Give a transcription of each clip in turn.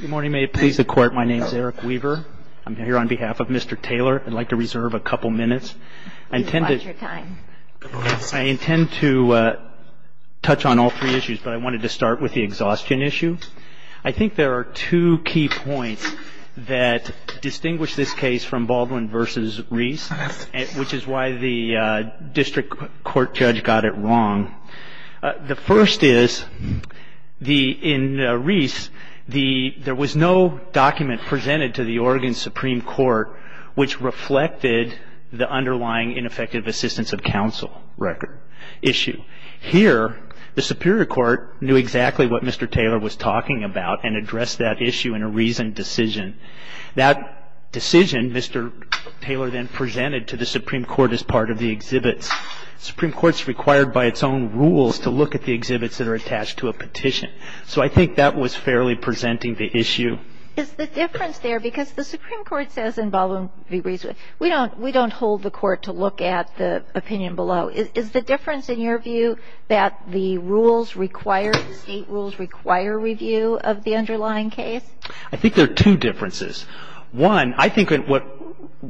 Good morning. May it please the Court, my name is Eric Weaver. I'm here on behalf of Mr. Taylor. I'd like to reserve a couple minutes. I intend to touch on all three issues, but I wanted to start with the exhaustion issue. I think there are two key points that distinguish this case from Baldwin v. Reese, which is why the district court judge got it wrong. The first is, in Reese, there was no document presented to the Oregon Supreme Court which reflected the underlying ineffective assistance of counsel issue. Here, the Superior Court knew exactly what Mr. Taylor was talking about and addressed that issue in a reasoned decision. That decision, Mr. Taylor then presented to the Supreme Court as part of the exhibits. The Supreme Court is required by its own rules to look at the exhibits that are attached to a petition. So I think that was fairly presenting the issue. Is the difference there, because the Supreme Court says in Baldwin v. Reese, we don't hold the court to look at the opinion below. Is the difference, in your view, that the rules require, the state rules require review of the underlying case? I think there are two differences. One, I think what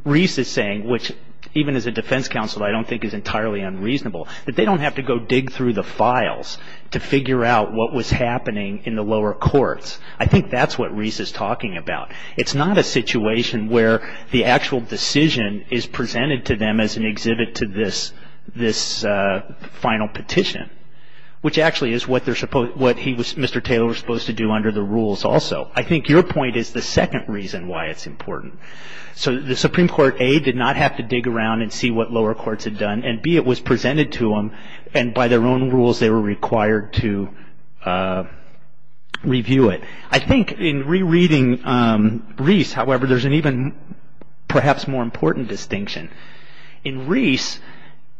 Reese is saying, which even as a defense counsel I don't think is entirely unreasonable, that they don't have to go dig through the files to figure out what was happening in the lower courts. I think that's what Reese is talking about. It's not a situation where the actual decision is presented to them as an exhibit to this final petition, which actually is what Mr. Taylor was supposed to do under the rules also. I think your point is the second reason why it's important. So the Supreme Court, A, did not have to dig around and see what lower courts had done, and B, it was presented to them and by their own rules they were required to review it. I think in rereading Reese, however, there's an even perhaps more important distinction. In Reese,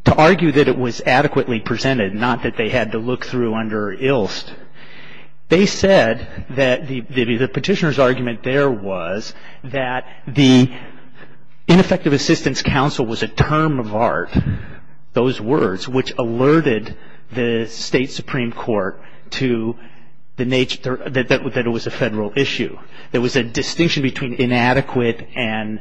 to argue that it was adequately presented, not that they had to look through under Ilst, they said that the petitioner's argument there was that the ineffective assistance counsel was a term of art, those words, which alerted the State Supreme Court to the nature that it was a Federal issue. There was a distinction between inadequate and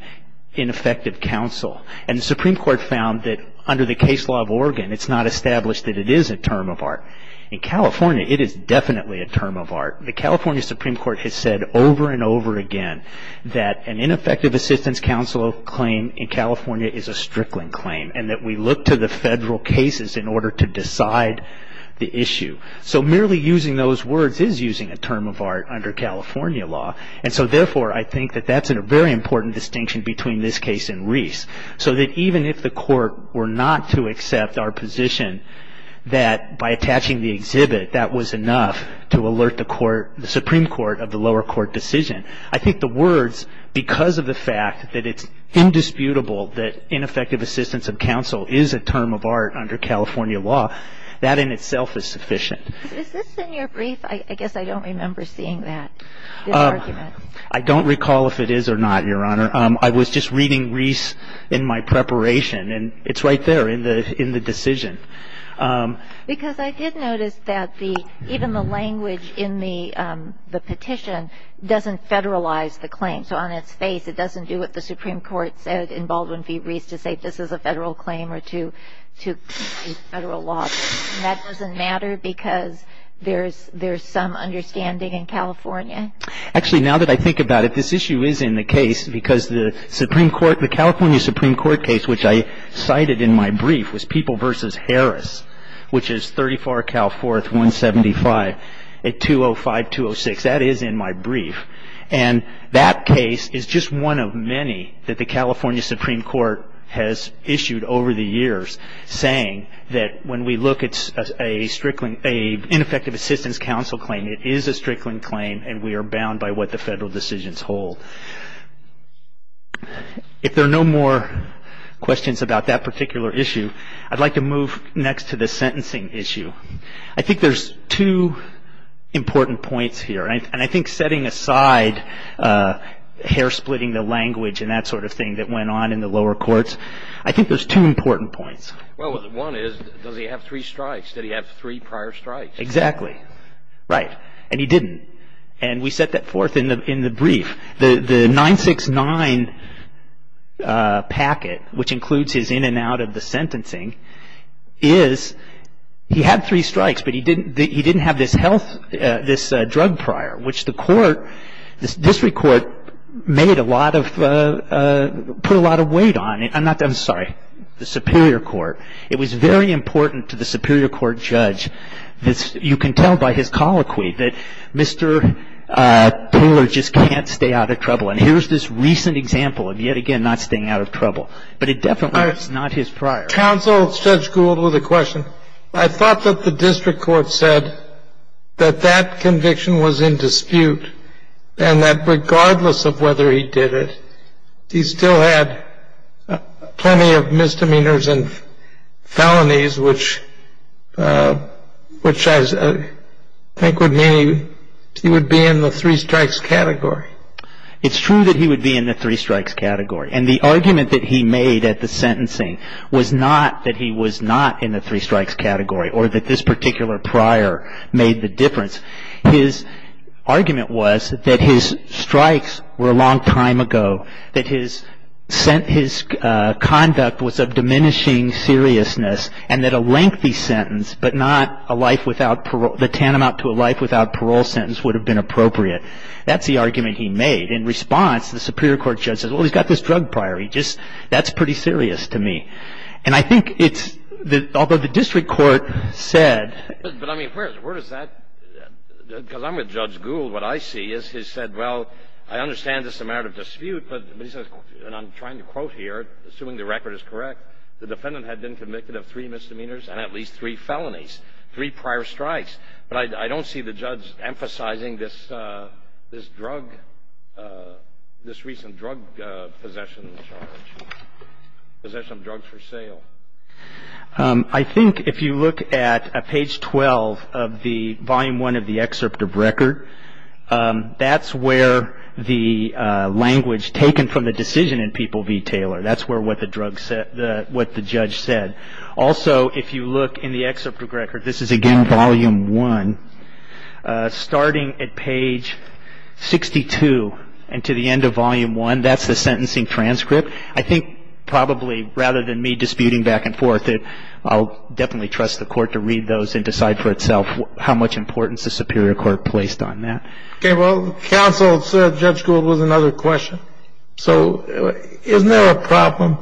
ineffective counsel. And the Supreme Court found that under the case law of Oregon it's not established that it is a term of art. In California it is definitely a term of art. The California Supreme Court has said over and over again that an ineffective assistance counsel claim in California is a strickling claim and that we look to the Federal cases in order to decide the issue. So merely using those words is using a term of art under California law, and so therefore I think that that's a very important distinction between this case and Reese. So that even if the Court were not to accept our position that by attaching the exhibit that was enough to alert the Supreme Court of the lower court decision, I think the words because of the fact that it's indisputable that ineffective assistance of counsel is a term of art under California law, that in itself is sufficient. Is this in your brief? I guess I don't remember seeing that, this argument. I don't recall if it is or not, Your Honor. I was just reading Reese in my preparation, and it's right there in the decision. Because I did notice that even the language in the petition doesn't federalize the claim. So on its face it doesn't do what the Supreme Court said in Baldwin v. Reese to say this is a Federal claim or to be Federal law, and that doesn't matter because there's some understanding in California? Actually, now that I think about it, this issue is in the case because the Supreme Court, the California Supreme Court case, which I cited in my brief, was People v. Harris, which is 34 Cal 4th 175 at 205-206. That is in my brief. And that case is just one of many that the California Supreme Court has issued over the years saying that when we look at a ineffective assistance counsel claim, it is a Strickland claim and we are bound by what the Federal decisions hold. If there are no more questions about that particular issue, I'd like to move next to the sentencing issue. I think there's two important points here, and I think setting aside hair-splitting the language and that sort of thing that went on in the lower courts, I think there's two important points. Well, one is does he have three strikes? Did he have three prior strikes? Exactly. Right. And he didn't. And we set that forth in the brief. The 969 packet, which includes his in and out of the sentencing, is he had three strikes, but he didn't have this health, this drug prior, which the court, this district court, made a lot of, put a lot of weight on. I'm not, I'm sorry, the Superior Court. It was very important to the Superior Court judge that you can tell by his colloquy that Mr. Taylor just can't stay out of trouble. And here's this recent example of, yet again, not staying out of trouble. But it definitely was not his prior. Counsel, Judge Gould, with a question. I thought that the district court said that that conviction was in dispute and that regardless of whether he did it, he still had plenty of misdemeanors and felonies, which I think would mean he would be in the three strikes category. It's true that he would be in the three strikes category. And the argument that he made at the sentencing was not that he was not in the three strikes category or that this particular prior made the difference. His argument was that his strikes were a long time ago, that his conduct was of diminishing seriousness, and that a lengthy sentence but not a life without parole, the tantamount to a life without parole sentence would have been appropriate. That's the argument he made. In response, the Superior Court judge says, well, he's got this drug prior. He just, that's pretty serious to me. And I think it's, although the district court said. But, I mean, where does that, because I'm with Judge Gould. What I see is he said, well, I understand this is a matter of dispute, but he says, and I'm trying to quote here, assuming the record is correct, the defendant had been convicted of three misdemeanors and at least three felonies, three prior strikes. But I don't see the judge emphasizing this drug, this recent drug possession charge, possession of drugs for sale. I think if you look at page 12 of the volume 1 of the excerpt of record, that's where the language taken from the decision in People v. Taylor, that's where what the judge said. Also, if you look in the excerpt of record, this is again volume 1, starting at page 62 and to the end of volume 1, that's the sentencing transcript. I think probably rather than me disputing back and forth, I'll definitely trust the court to read those and decide for itself how much importance the superior court placed on that. Okay. Well, counsel said Judge Gould was another question. So isn't there a problem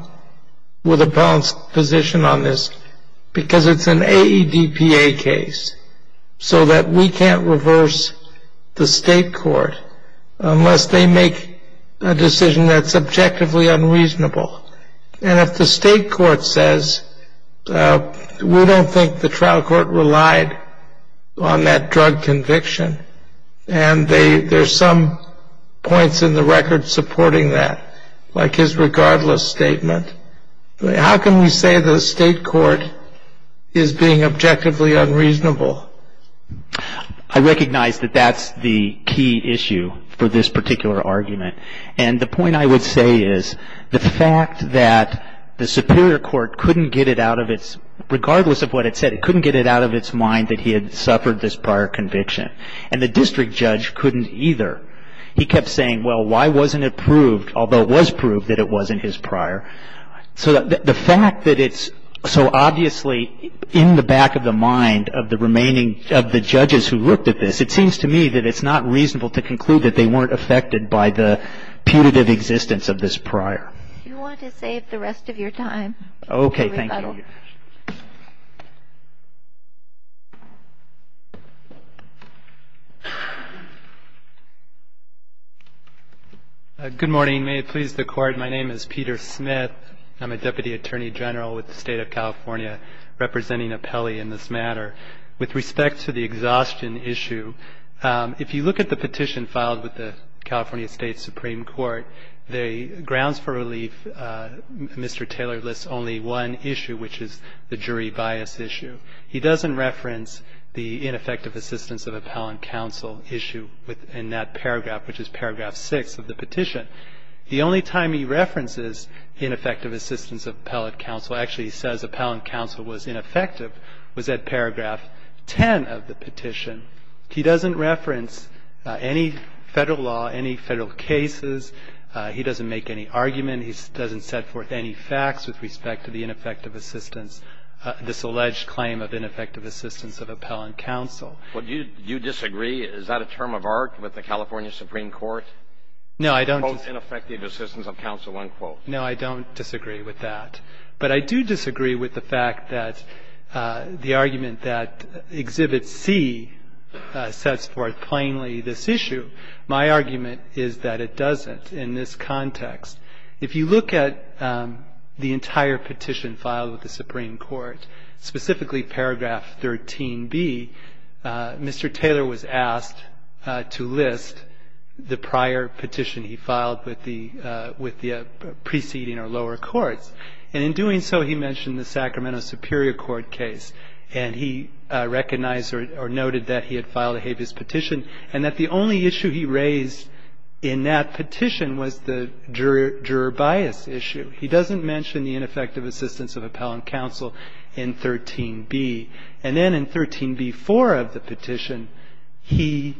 with appellant's position on this? Because it's an AEDPA case so that we can't reverse the state court unless they make a decision that's objectively unreasonable. And if the state court says we don't think the trial court relied on that drug conviction and there's some points in the record supporting that, like his regardless statement, how can we say the state court is being objectively unreasonable? I recognize that that's the key issue for this particular argument. And the point I would say is the fact that the superior court couldn't get it out of its regardless of what it said, it couldn't get it out of its mind that he had suffered this prior conviction. And the district judge couldn't either. He kept saying, well, why wasn't it proved, although it was proved that it wasn't his prior? So the fact that it's so obviously in the back of the mind of the remaining of the judges who looked at this, it seems to me that it's not reasonable to conclude that they weren't affected by the punitive existence of this prior. Do you want to save the rest of your time? Okay. Thank you. Good morning. May it please the Court, my name is Peter Smith. I'm a Deputy Attorney General with the State of California representing Apelli in this matter. With respect to the exhaustion issue, if you look at the petition filed with the California State Supreme Court, the grounds for relief, Mr. Taylor lists only one issue, which is the jury bias issue. He doesn't reference the ineffective assistance of appellant counsel issue in that paragraph, which is paragraph six of the petition. The only time he references ineffective assistance of appellate counsel, actually he says appellant counsel was ineffective, was at paragraph 10 of the petition. He doesn't reference any Federal law, any Federal cases. He doesn't make any argument. He doesn't set forth any facts with respect to the ineffective assistance, this alleged claim of ineffective assistance of appellant counsel. Well, do you disagree? Is that a term of art with the California Supreme Court? No, I don't. Quote, ineffective assistance of counsel, unquote. No, I don't disagree with that. But I do disagree with the fact that the argument that Exhibit C sets forth plainly this issue. My argument is that it doesn't in this context. If you look at the entire petition filed with the Supreme Court, specifically paragraph 13b, Mr. Taylor was asked to list the prior petition he filed with the preceding or lower courts. And in doing so, he mentioned the Sacramento Superior Court case. And he recognized or noted that he had filed a habeas petition and that the only issue he raised in that petition was the juror bias issue. He doesn't mention the ineffective assistance of appellant counsel in 13b. And then in 13b-4 of the petition, he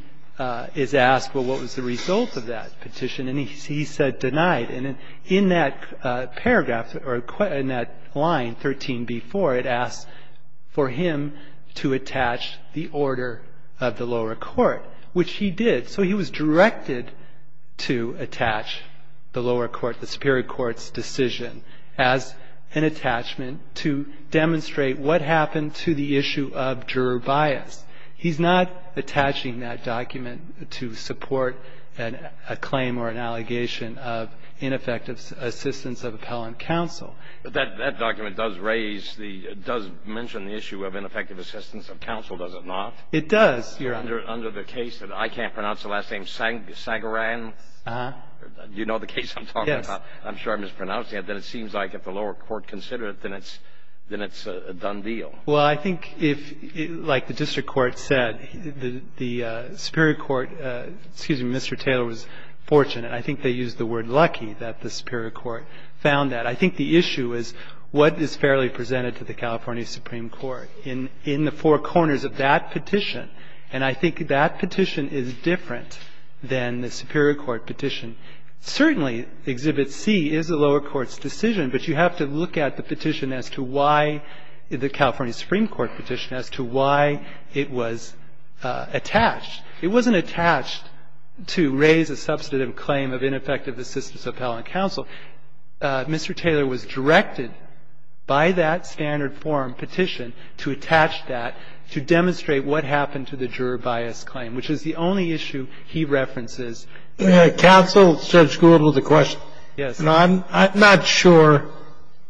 is asked, well, what was the result of that petition? And he said denied. And in that paragraph or in that line, 13b-4, it asks for him to attach the order of the lower court, which he did. So he was directed to attach the lower court, the superior court's decision, as an attachment to demonstrate what happened to the issue of juror bias. He's not attaching that document to support a claim or an allegation of ineffective assistance of appellant counsel. But that document does raise the – does mention the issue of ineffective assistance of counsel, does it not? It does, Your Honor. Under the case that I can't pronounce the last name, Sagaran? Uh-huh. You know the case I'm talking about? Yes. I'm sure I'm mispronouncing it. Then it seems like if the lower court considered it, then it's a done deal. Well, I think if, like the district court said, the superior court – excuse me, Mr. Taylor was fortunate, I think they used the word lucky, that the superior court found that. I think the issue is what is fairly presented to the California Supreme Court in the four corners of that petition. And I think that petition is different than the superior court petition. Certainly, Exhibit C is the lower court's decision, but you have to look at the petition as to why – the California Supreme Court petition as to why it was attached. It wasn't attached to raise a substantive claim of ineffective assistance of appellant counsel. Mr. Taylor was directed by that standard form petition to attach that to demonstrate what happened to the juror bias claim, which is the only issue he references. Counsel, Judge Gould, with a question. Yes. I'm not sure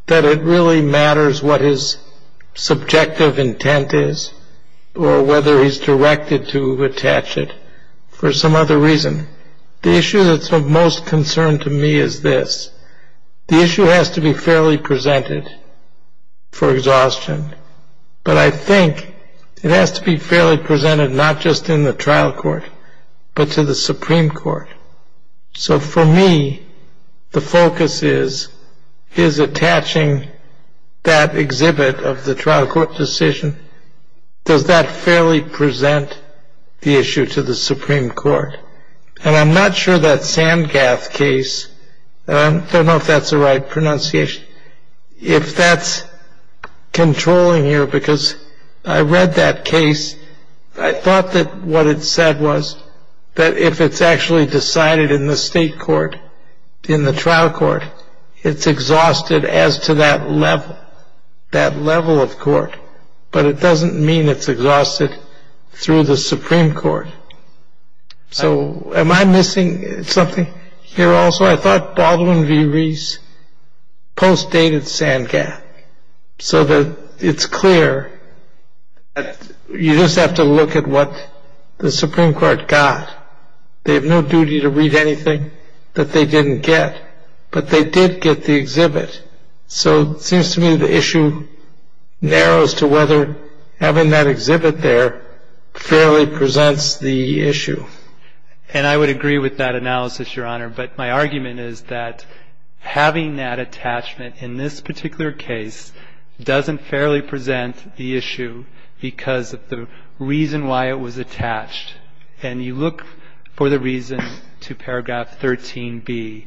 that it really matters what his subjective intent is or whether he's directed to attach it for some other reason. The issue that's of most concern to me is this. The issue has to be fairly presented for exhaustion, but I think it has to be fairly presented not just in the trial court, but to the Supreme Court. So for me, the focus is, is attaching that exhibit of the trial court decision, does that fairly present the issue to the Supreme Court? And I'm not sure that Sandgath case – I don't know if that's the right pronunciation – if that's controlling here, because I read that case. I thought that what it said was that if it's actually decided in the state court, in the trial court, it's exhausted as to that level, that level of court. But it doesn't mean it's exhausted through the Supreme Court. So am I missing something here also? No, I thought Baldwin v. Reese postdated Sandgath so that it's clear that you just have to look at what the Supreme Court got. They have no duty to read anything that they didn't get, but they did get the exhibit. So it seems to me the issue narrows to whether having that exhibit there fairly presents the issue. And I would agree with that analysis, Your Honor, but my argument is that having that attachment in this particular case doesn't fairly present the issue because of the reason why it was attached. And you look for the reason to paragraph 13b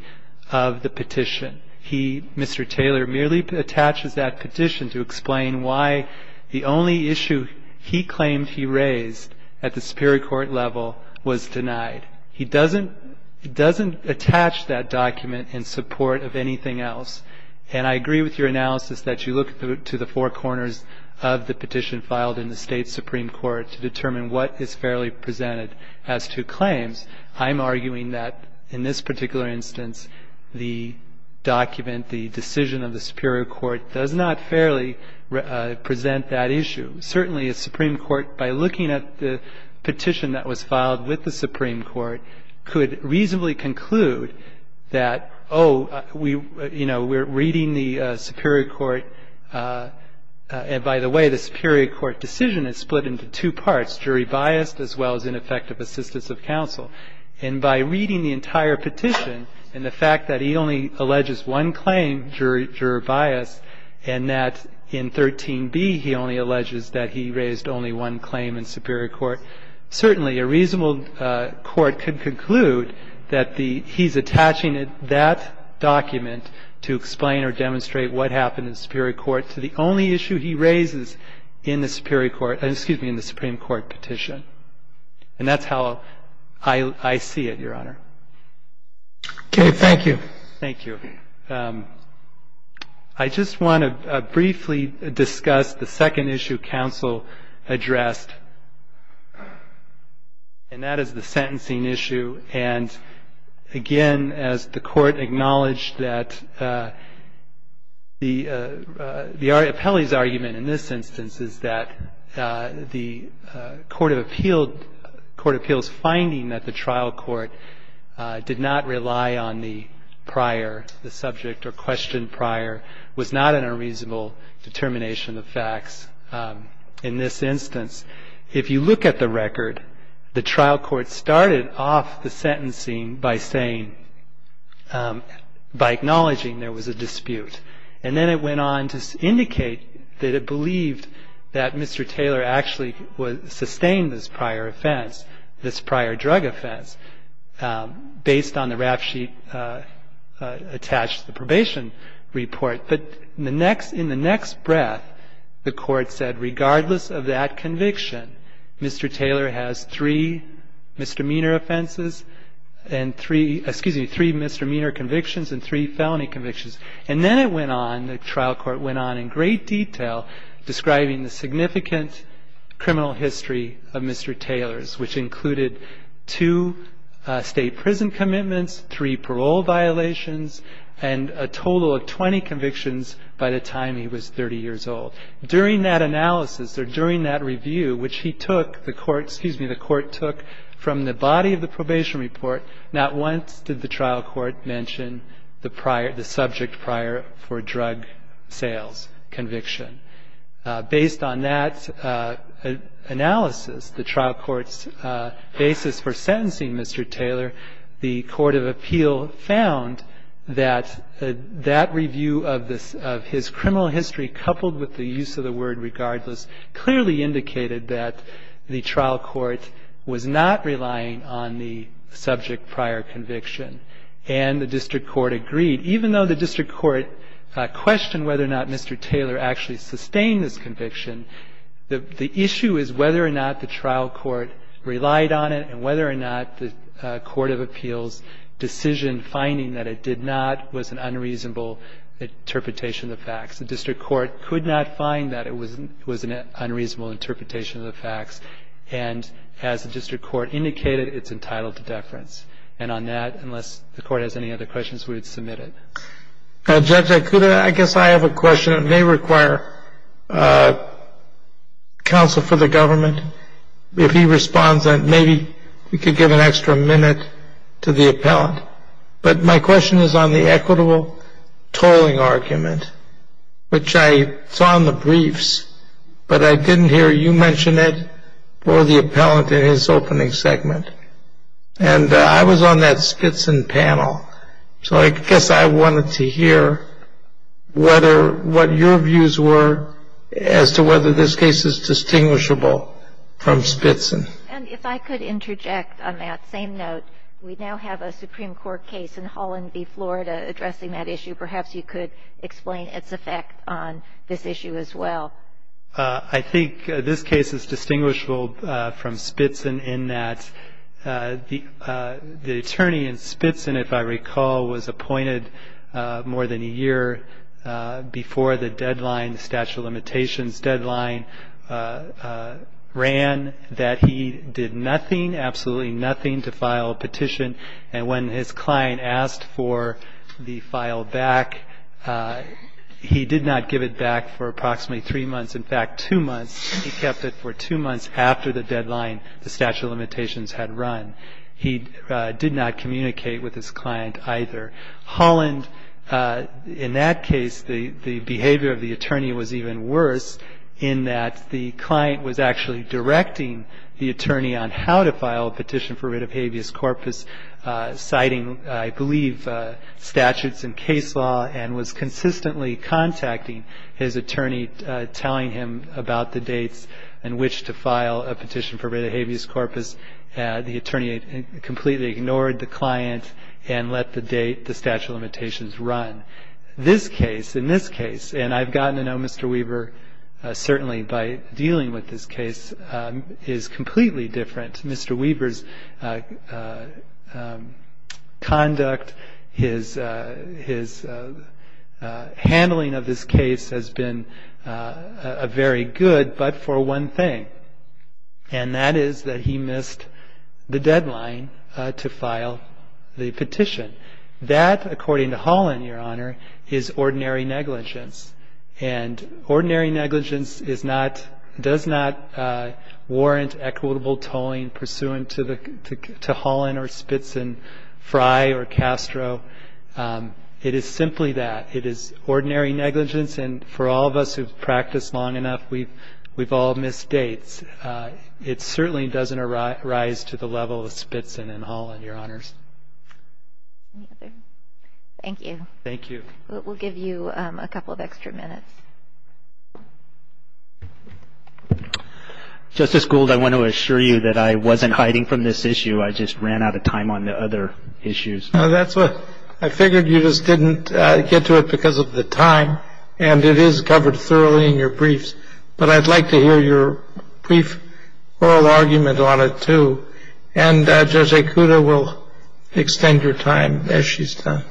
of the petition. He, Mr. Taylor, merely attaches that petition to explain why the only issue he claimed he raised at the superior court level was denied. He doesn't attach that document in support of anything else. And I agree with your analysis that you look to the four corners of the petition filed in the state Supreme Court to determine what is fairly presented as to claims. I'm arguing that in this particular instance, the document, the decision of the superior court does not fairly present that issue. Certainly a Supreme Court, by looking at the petition that was filed with the Supreme Court, could reasonably conclude that, oh, you know, we're reading the superior court, and by the way, the superior court decision is split into two parts, jury biased as well as ineffective assistance of counsel. And by reading the entire petition and the fact that he only alleges one claim, jury biased, and that in 13b he only alleges that he raised only one claim in superior court, certainly a reasonable court could conclude that the he's attaching that document to explain or demonstrate what happened in superior court to the only issue he raises in the superior court, excuse me, in the Supreme Court petition. And that's how I see it, Your Honor. Okay. Thank you. Thank you. I just want to briefly discuss the second issue counsel addressed, and that is the sentencing issue. And, again, as the Court acknowledged that the appellee's argument in this instance is that the court of appeals finding that the trial court did not rely on the prior, the subject or question prior, was not an unreasonable determination of facts in this instance. If you look at the record, the trial court started off the sentencing by saying, by acknowledging there was a dispute. And then it went on to indicate that it believed that Mr. Taylor actually sustained this prior offense, this prior drug offense, based on the rap sheet attached to the probation report. But in the next breath, the court said, regardless of that conviction, Mr. Taylor has three misdemeanor offenses and three, excuse me, three misdemeanor convictions and three felony convictions. And then it went on, the trial court went on in great detail describing the significant criminal history of Mr. Taylor's, which included two state prison commitments, three parole violations, and a total of 20 convictions by the time he was 30 years old. During that analysis or during that review, which he took, the court, excuse me, the court took from the body of the probation report, not once did the trial court mention the prior, the subject prior for drug sales conviction. Based on that analysis, the trial court's basis for sentencing Mr. Taylor, the court of appeal found that that review of his criminal history coupled with the use of the word regardless clearly indicated that the trial court was not relying on the subject prior conviction. And the district court agreed. Even though the district court questioned whether or not Mr. Taylor actually sustained this conviction, the issue is whether or not the trial court relied on it and whether or not the court of appeals' decision finding that it did not was an unreasonable interpretation of the facts. The district court could not find that it was an unreasonable interpretation of the facts. And as the district court indicated, it's entitled to deference. And on that, unless the court has any other questions, we would submit it. Judge, I guess I have a question. It may require counsel for the government. If he responds, maybe we could give an extra minute to the appellant. But my question is on the equitable tolling argument, which I saw in the briefs, but I didn't hear you mention it for the appellant in his opening segment. And I was on that Spitzen panel, so I guess I wanted to hear what your views were as to whether this case is distinguishable from Spitzen. And if I could interject on that same note, we now have a Supreme Court case in Holland v. Florida addressing that issue. Perhaps you could explain its effect on this issue as well. I think this case is distinguishable from Spitzen in that the attorney in Spitzen, if I recall, was appointed more than a year before the deadline, the statute of limitations deadline, ran, that he did nothing, absolutely nothing to file a petition. And when his client asked for the file back, he did not give it back for approximately three months, in fact, two months. He kept it for two months after the deadline the statute of limitations had run. He did not communicate with his client either. Holland, in that case, the behavior of the attorney was even worse in that the client was actually directing the attorney on how to file a petition for writ of habeas corpus, citing, I believe, statutes and case law, and was consistently contacting his attorney telling him about the dates and which to file a petition for writ of habeas corpus. The attorney completely ignored the client and let the date, the statute of limitations, run. This case, in this case, and I've gotten to know Mr. Weber, certainly by dealing with this case, is completely different. Mr. Weber's conduct, his handling of this case has been very good, but for one thing, and that is that he missed the deadline to file the petition. That, according to Holland, Your Honor, is ordinary negligence. Ordinary negligence does not warrant equitable tolling pursuant to Holland or Spitson, Fry or Castro. It is simply that. It is ordinary negligence, and for all of us who've practiced long enough, we've all missed dates. It certainly doesn't arise to the level of Spitson and Holland, Your Honors. Any other? Thank you. Thank you. We'll give you a couple of extra minutes. Justice Gould, I want to assure you that I wasn't hiding from this issue. I just ran out of time on the other issues. I figured you just didn't get to it because of the time, and it is covered thoroughly in your briefs, but I'd like to hear your brief oral argument on it, too. And Judge Ikuda will extend your time as she's done.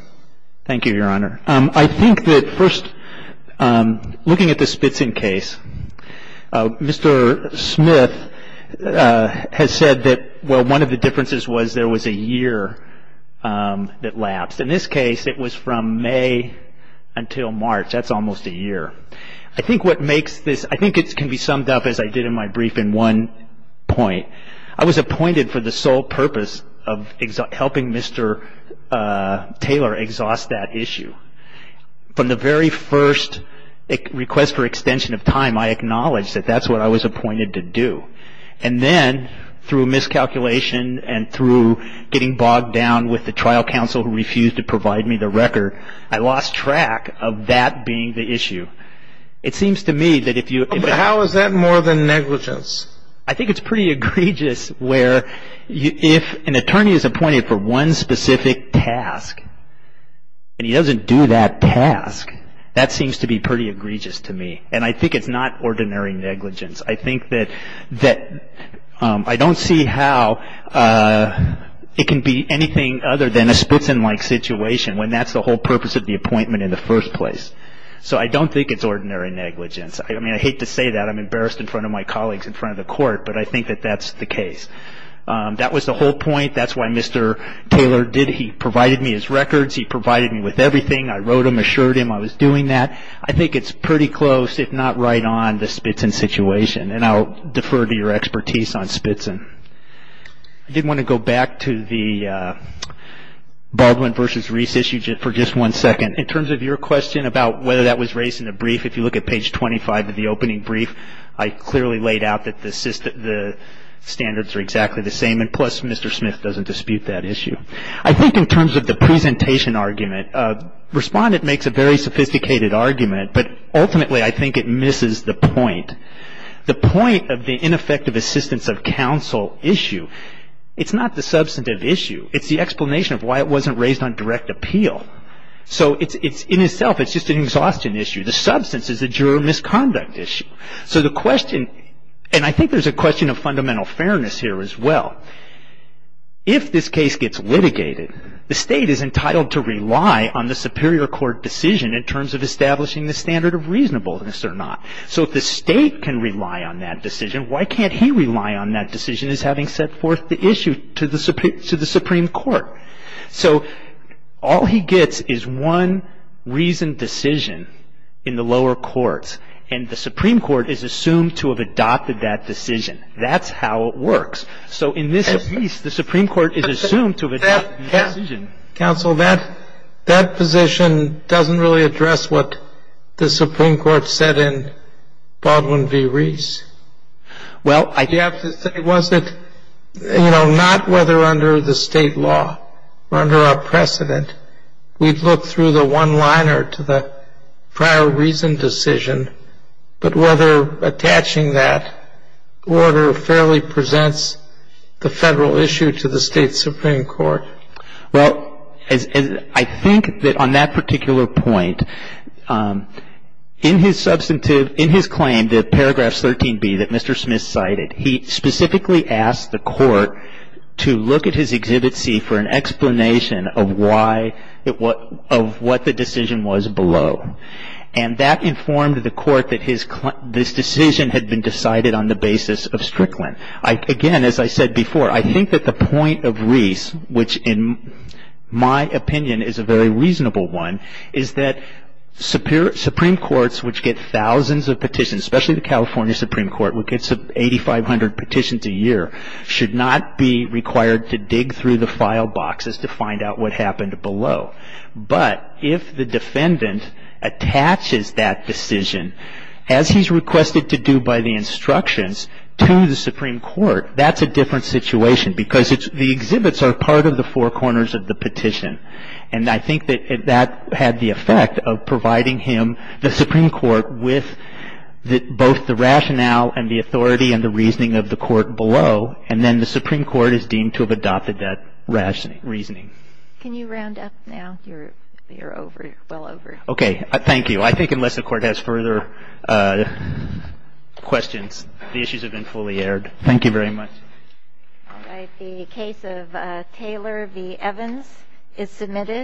Thank you, Your Honor. I think that first, looking at the Spitson case, Mr. Smith has said that, well, one of the differences was there was a year that lapsed. In this case, it was from May until March. That's almost a year. I think what makes this, I think it can be summed up as I did in my brief in one point. I was appointed for the sole purpose of helping Mr. Taylor exhaust that issue. From the very first request for extension of time, I acknowledged that that's what I was appointed to do. And then through miscalculation and through getting bogged down with the trial counsel who refused to provide me the record, I lost track of that being the issue. It seems to me that if you — How is that more than negligence? I think it's pretty egregious where if an attorney is appointed for one specific task and he doesn't do that task, that seems to be pretty egregious to me. And I think it's not ordinary negligence. I think that I don't see how it can be anything other than a Spitson-like situation when that's the whole purpose of the appointment in the first place. So I don't think it's ordinary negligence. I mean, I hate to say that. I'm embarrassed in front of my colleagues in front of the court. But I think that that's the case. That was the whole point. That's why Mr. Taylor did — he provided me his records. He provided me with everything. I wrote him, assured him I was doing that. I think it's pretty close, if not right on, the Spitson situation. And I'll defer to your expertise on Spitson. I did want to go back to the Baldwin v. Reese issue for just one second. In terms of your question about whether that was raised in the brief, if you look at page 25 of the opening brief, I clearly laid out that the standards are exactly the same, and plus Mr. Smith doesn't dispute that issue. I think in terms of the presentation argument, Respondent makes a very sophisticated argument, but ultimately I think it misses the point. The point of the ineffective assistance of counsel issue, it's not the substantive issue. It's the explanation of why it wasn't raised on direct appeal. So in itself, it's just an exhaustion issue. The substance is a juror misconduct issue. So the question — and I think there's a question of fundamental fairness here as well. If this case gets litigated, the state is entitled to rely on the superior court decision in terms of establishing the standard of reasonableness or not. So if the state can rely on that decision, why can't he rely on that decision as having set forth the issue to the Supreme Court? So all he gets is one reasoned decision in the lower courts, and the Supreme Court is assumed to have adopted that decision. That's how it works. So in this case, the Supreme Court is assumed to have adopted that decision. Counsel, that position doesn't really address what the Supreme Court said in Baldwin v. Reese. Well, I do have to say, was it — you know, not whether under the state law or under our precedent, we'd look through the one-liner to the prior reasoned decision, but whether attaching that order fairly presents the Federal issue to the state Supreme Court. Well, I think that on that particular point, in his substantive — in his claim, the paragraphs 13b that Mr. Smith cited, he specifically asked the court to look at his Exhibit C for an explanation of why — of what the decision was below. And that informed the court that his — this decision had been decided on the basis of Strickland. Again, as I said before, I think that the point of Reese, which in my opinion is a very reasonable one, is that Supreme Courts, which get thousands of petitions, especially the California Supreme Court, which gets 8,500 petitions a year, should not be required to dig through the file boxes to find out what happened below. But if the defendant attaches that decision, as he's requested to do by the instructions to the Supreme Court, that's a different situation because the exhibits are part of the four corners of the petition. And I think that that had the effect of providing him, the Supreme Court, with both the rationale and the authority and the reasoning of the court below, and then the Supreme Court is deemed to have adopted that reasoning. Can you round up now? You're over — well over. Okay. Thank you. I think unless the Court has further questions, the issues have been fully aired. Thank you very much. All right. The case of Taylor v. Evans is submitted.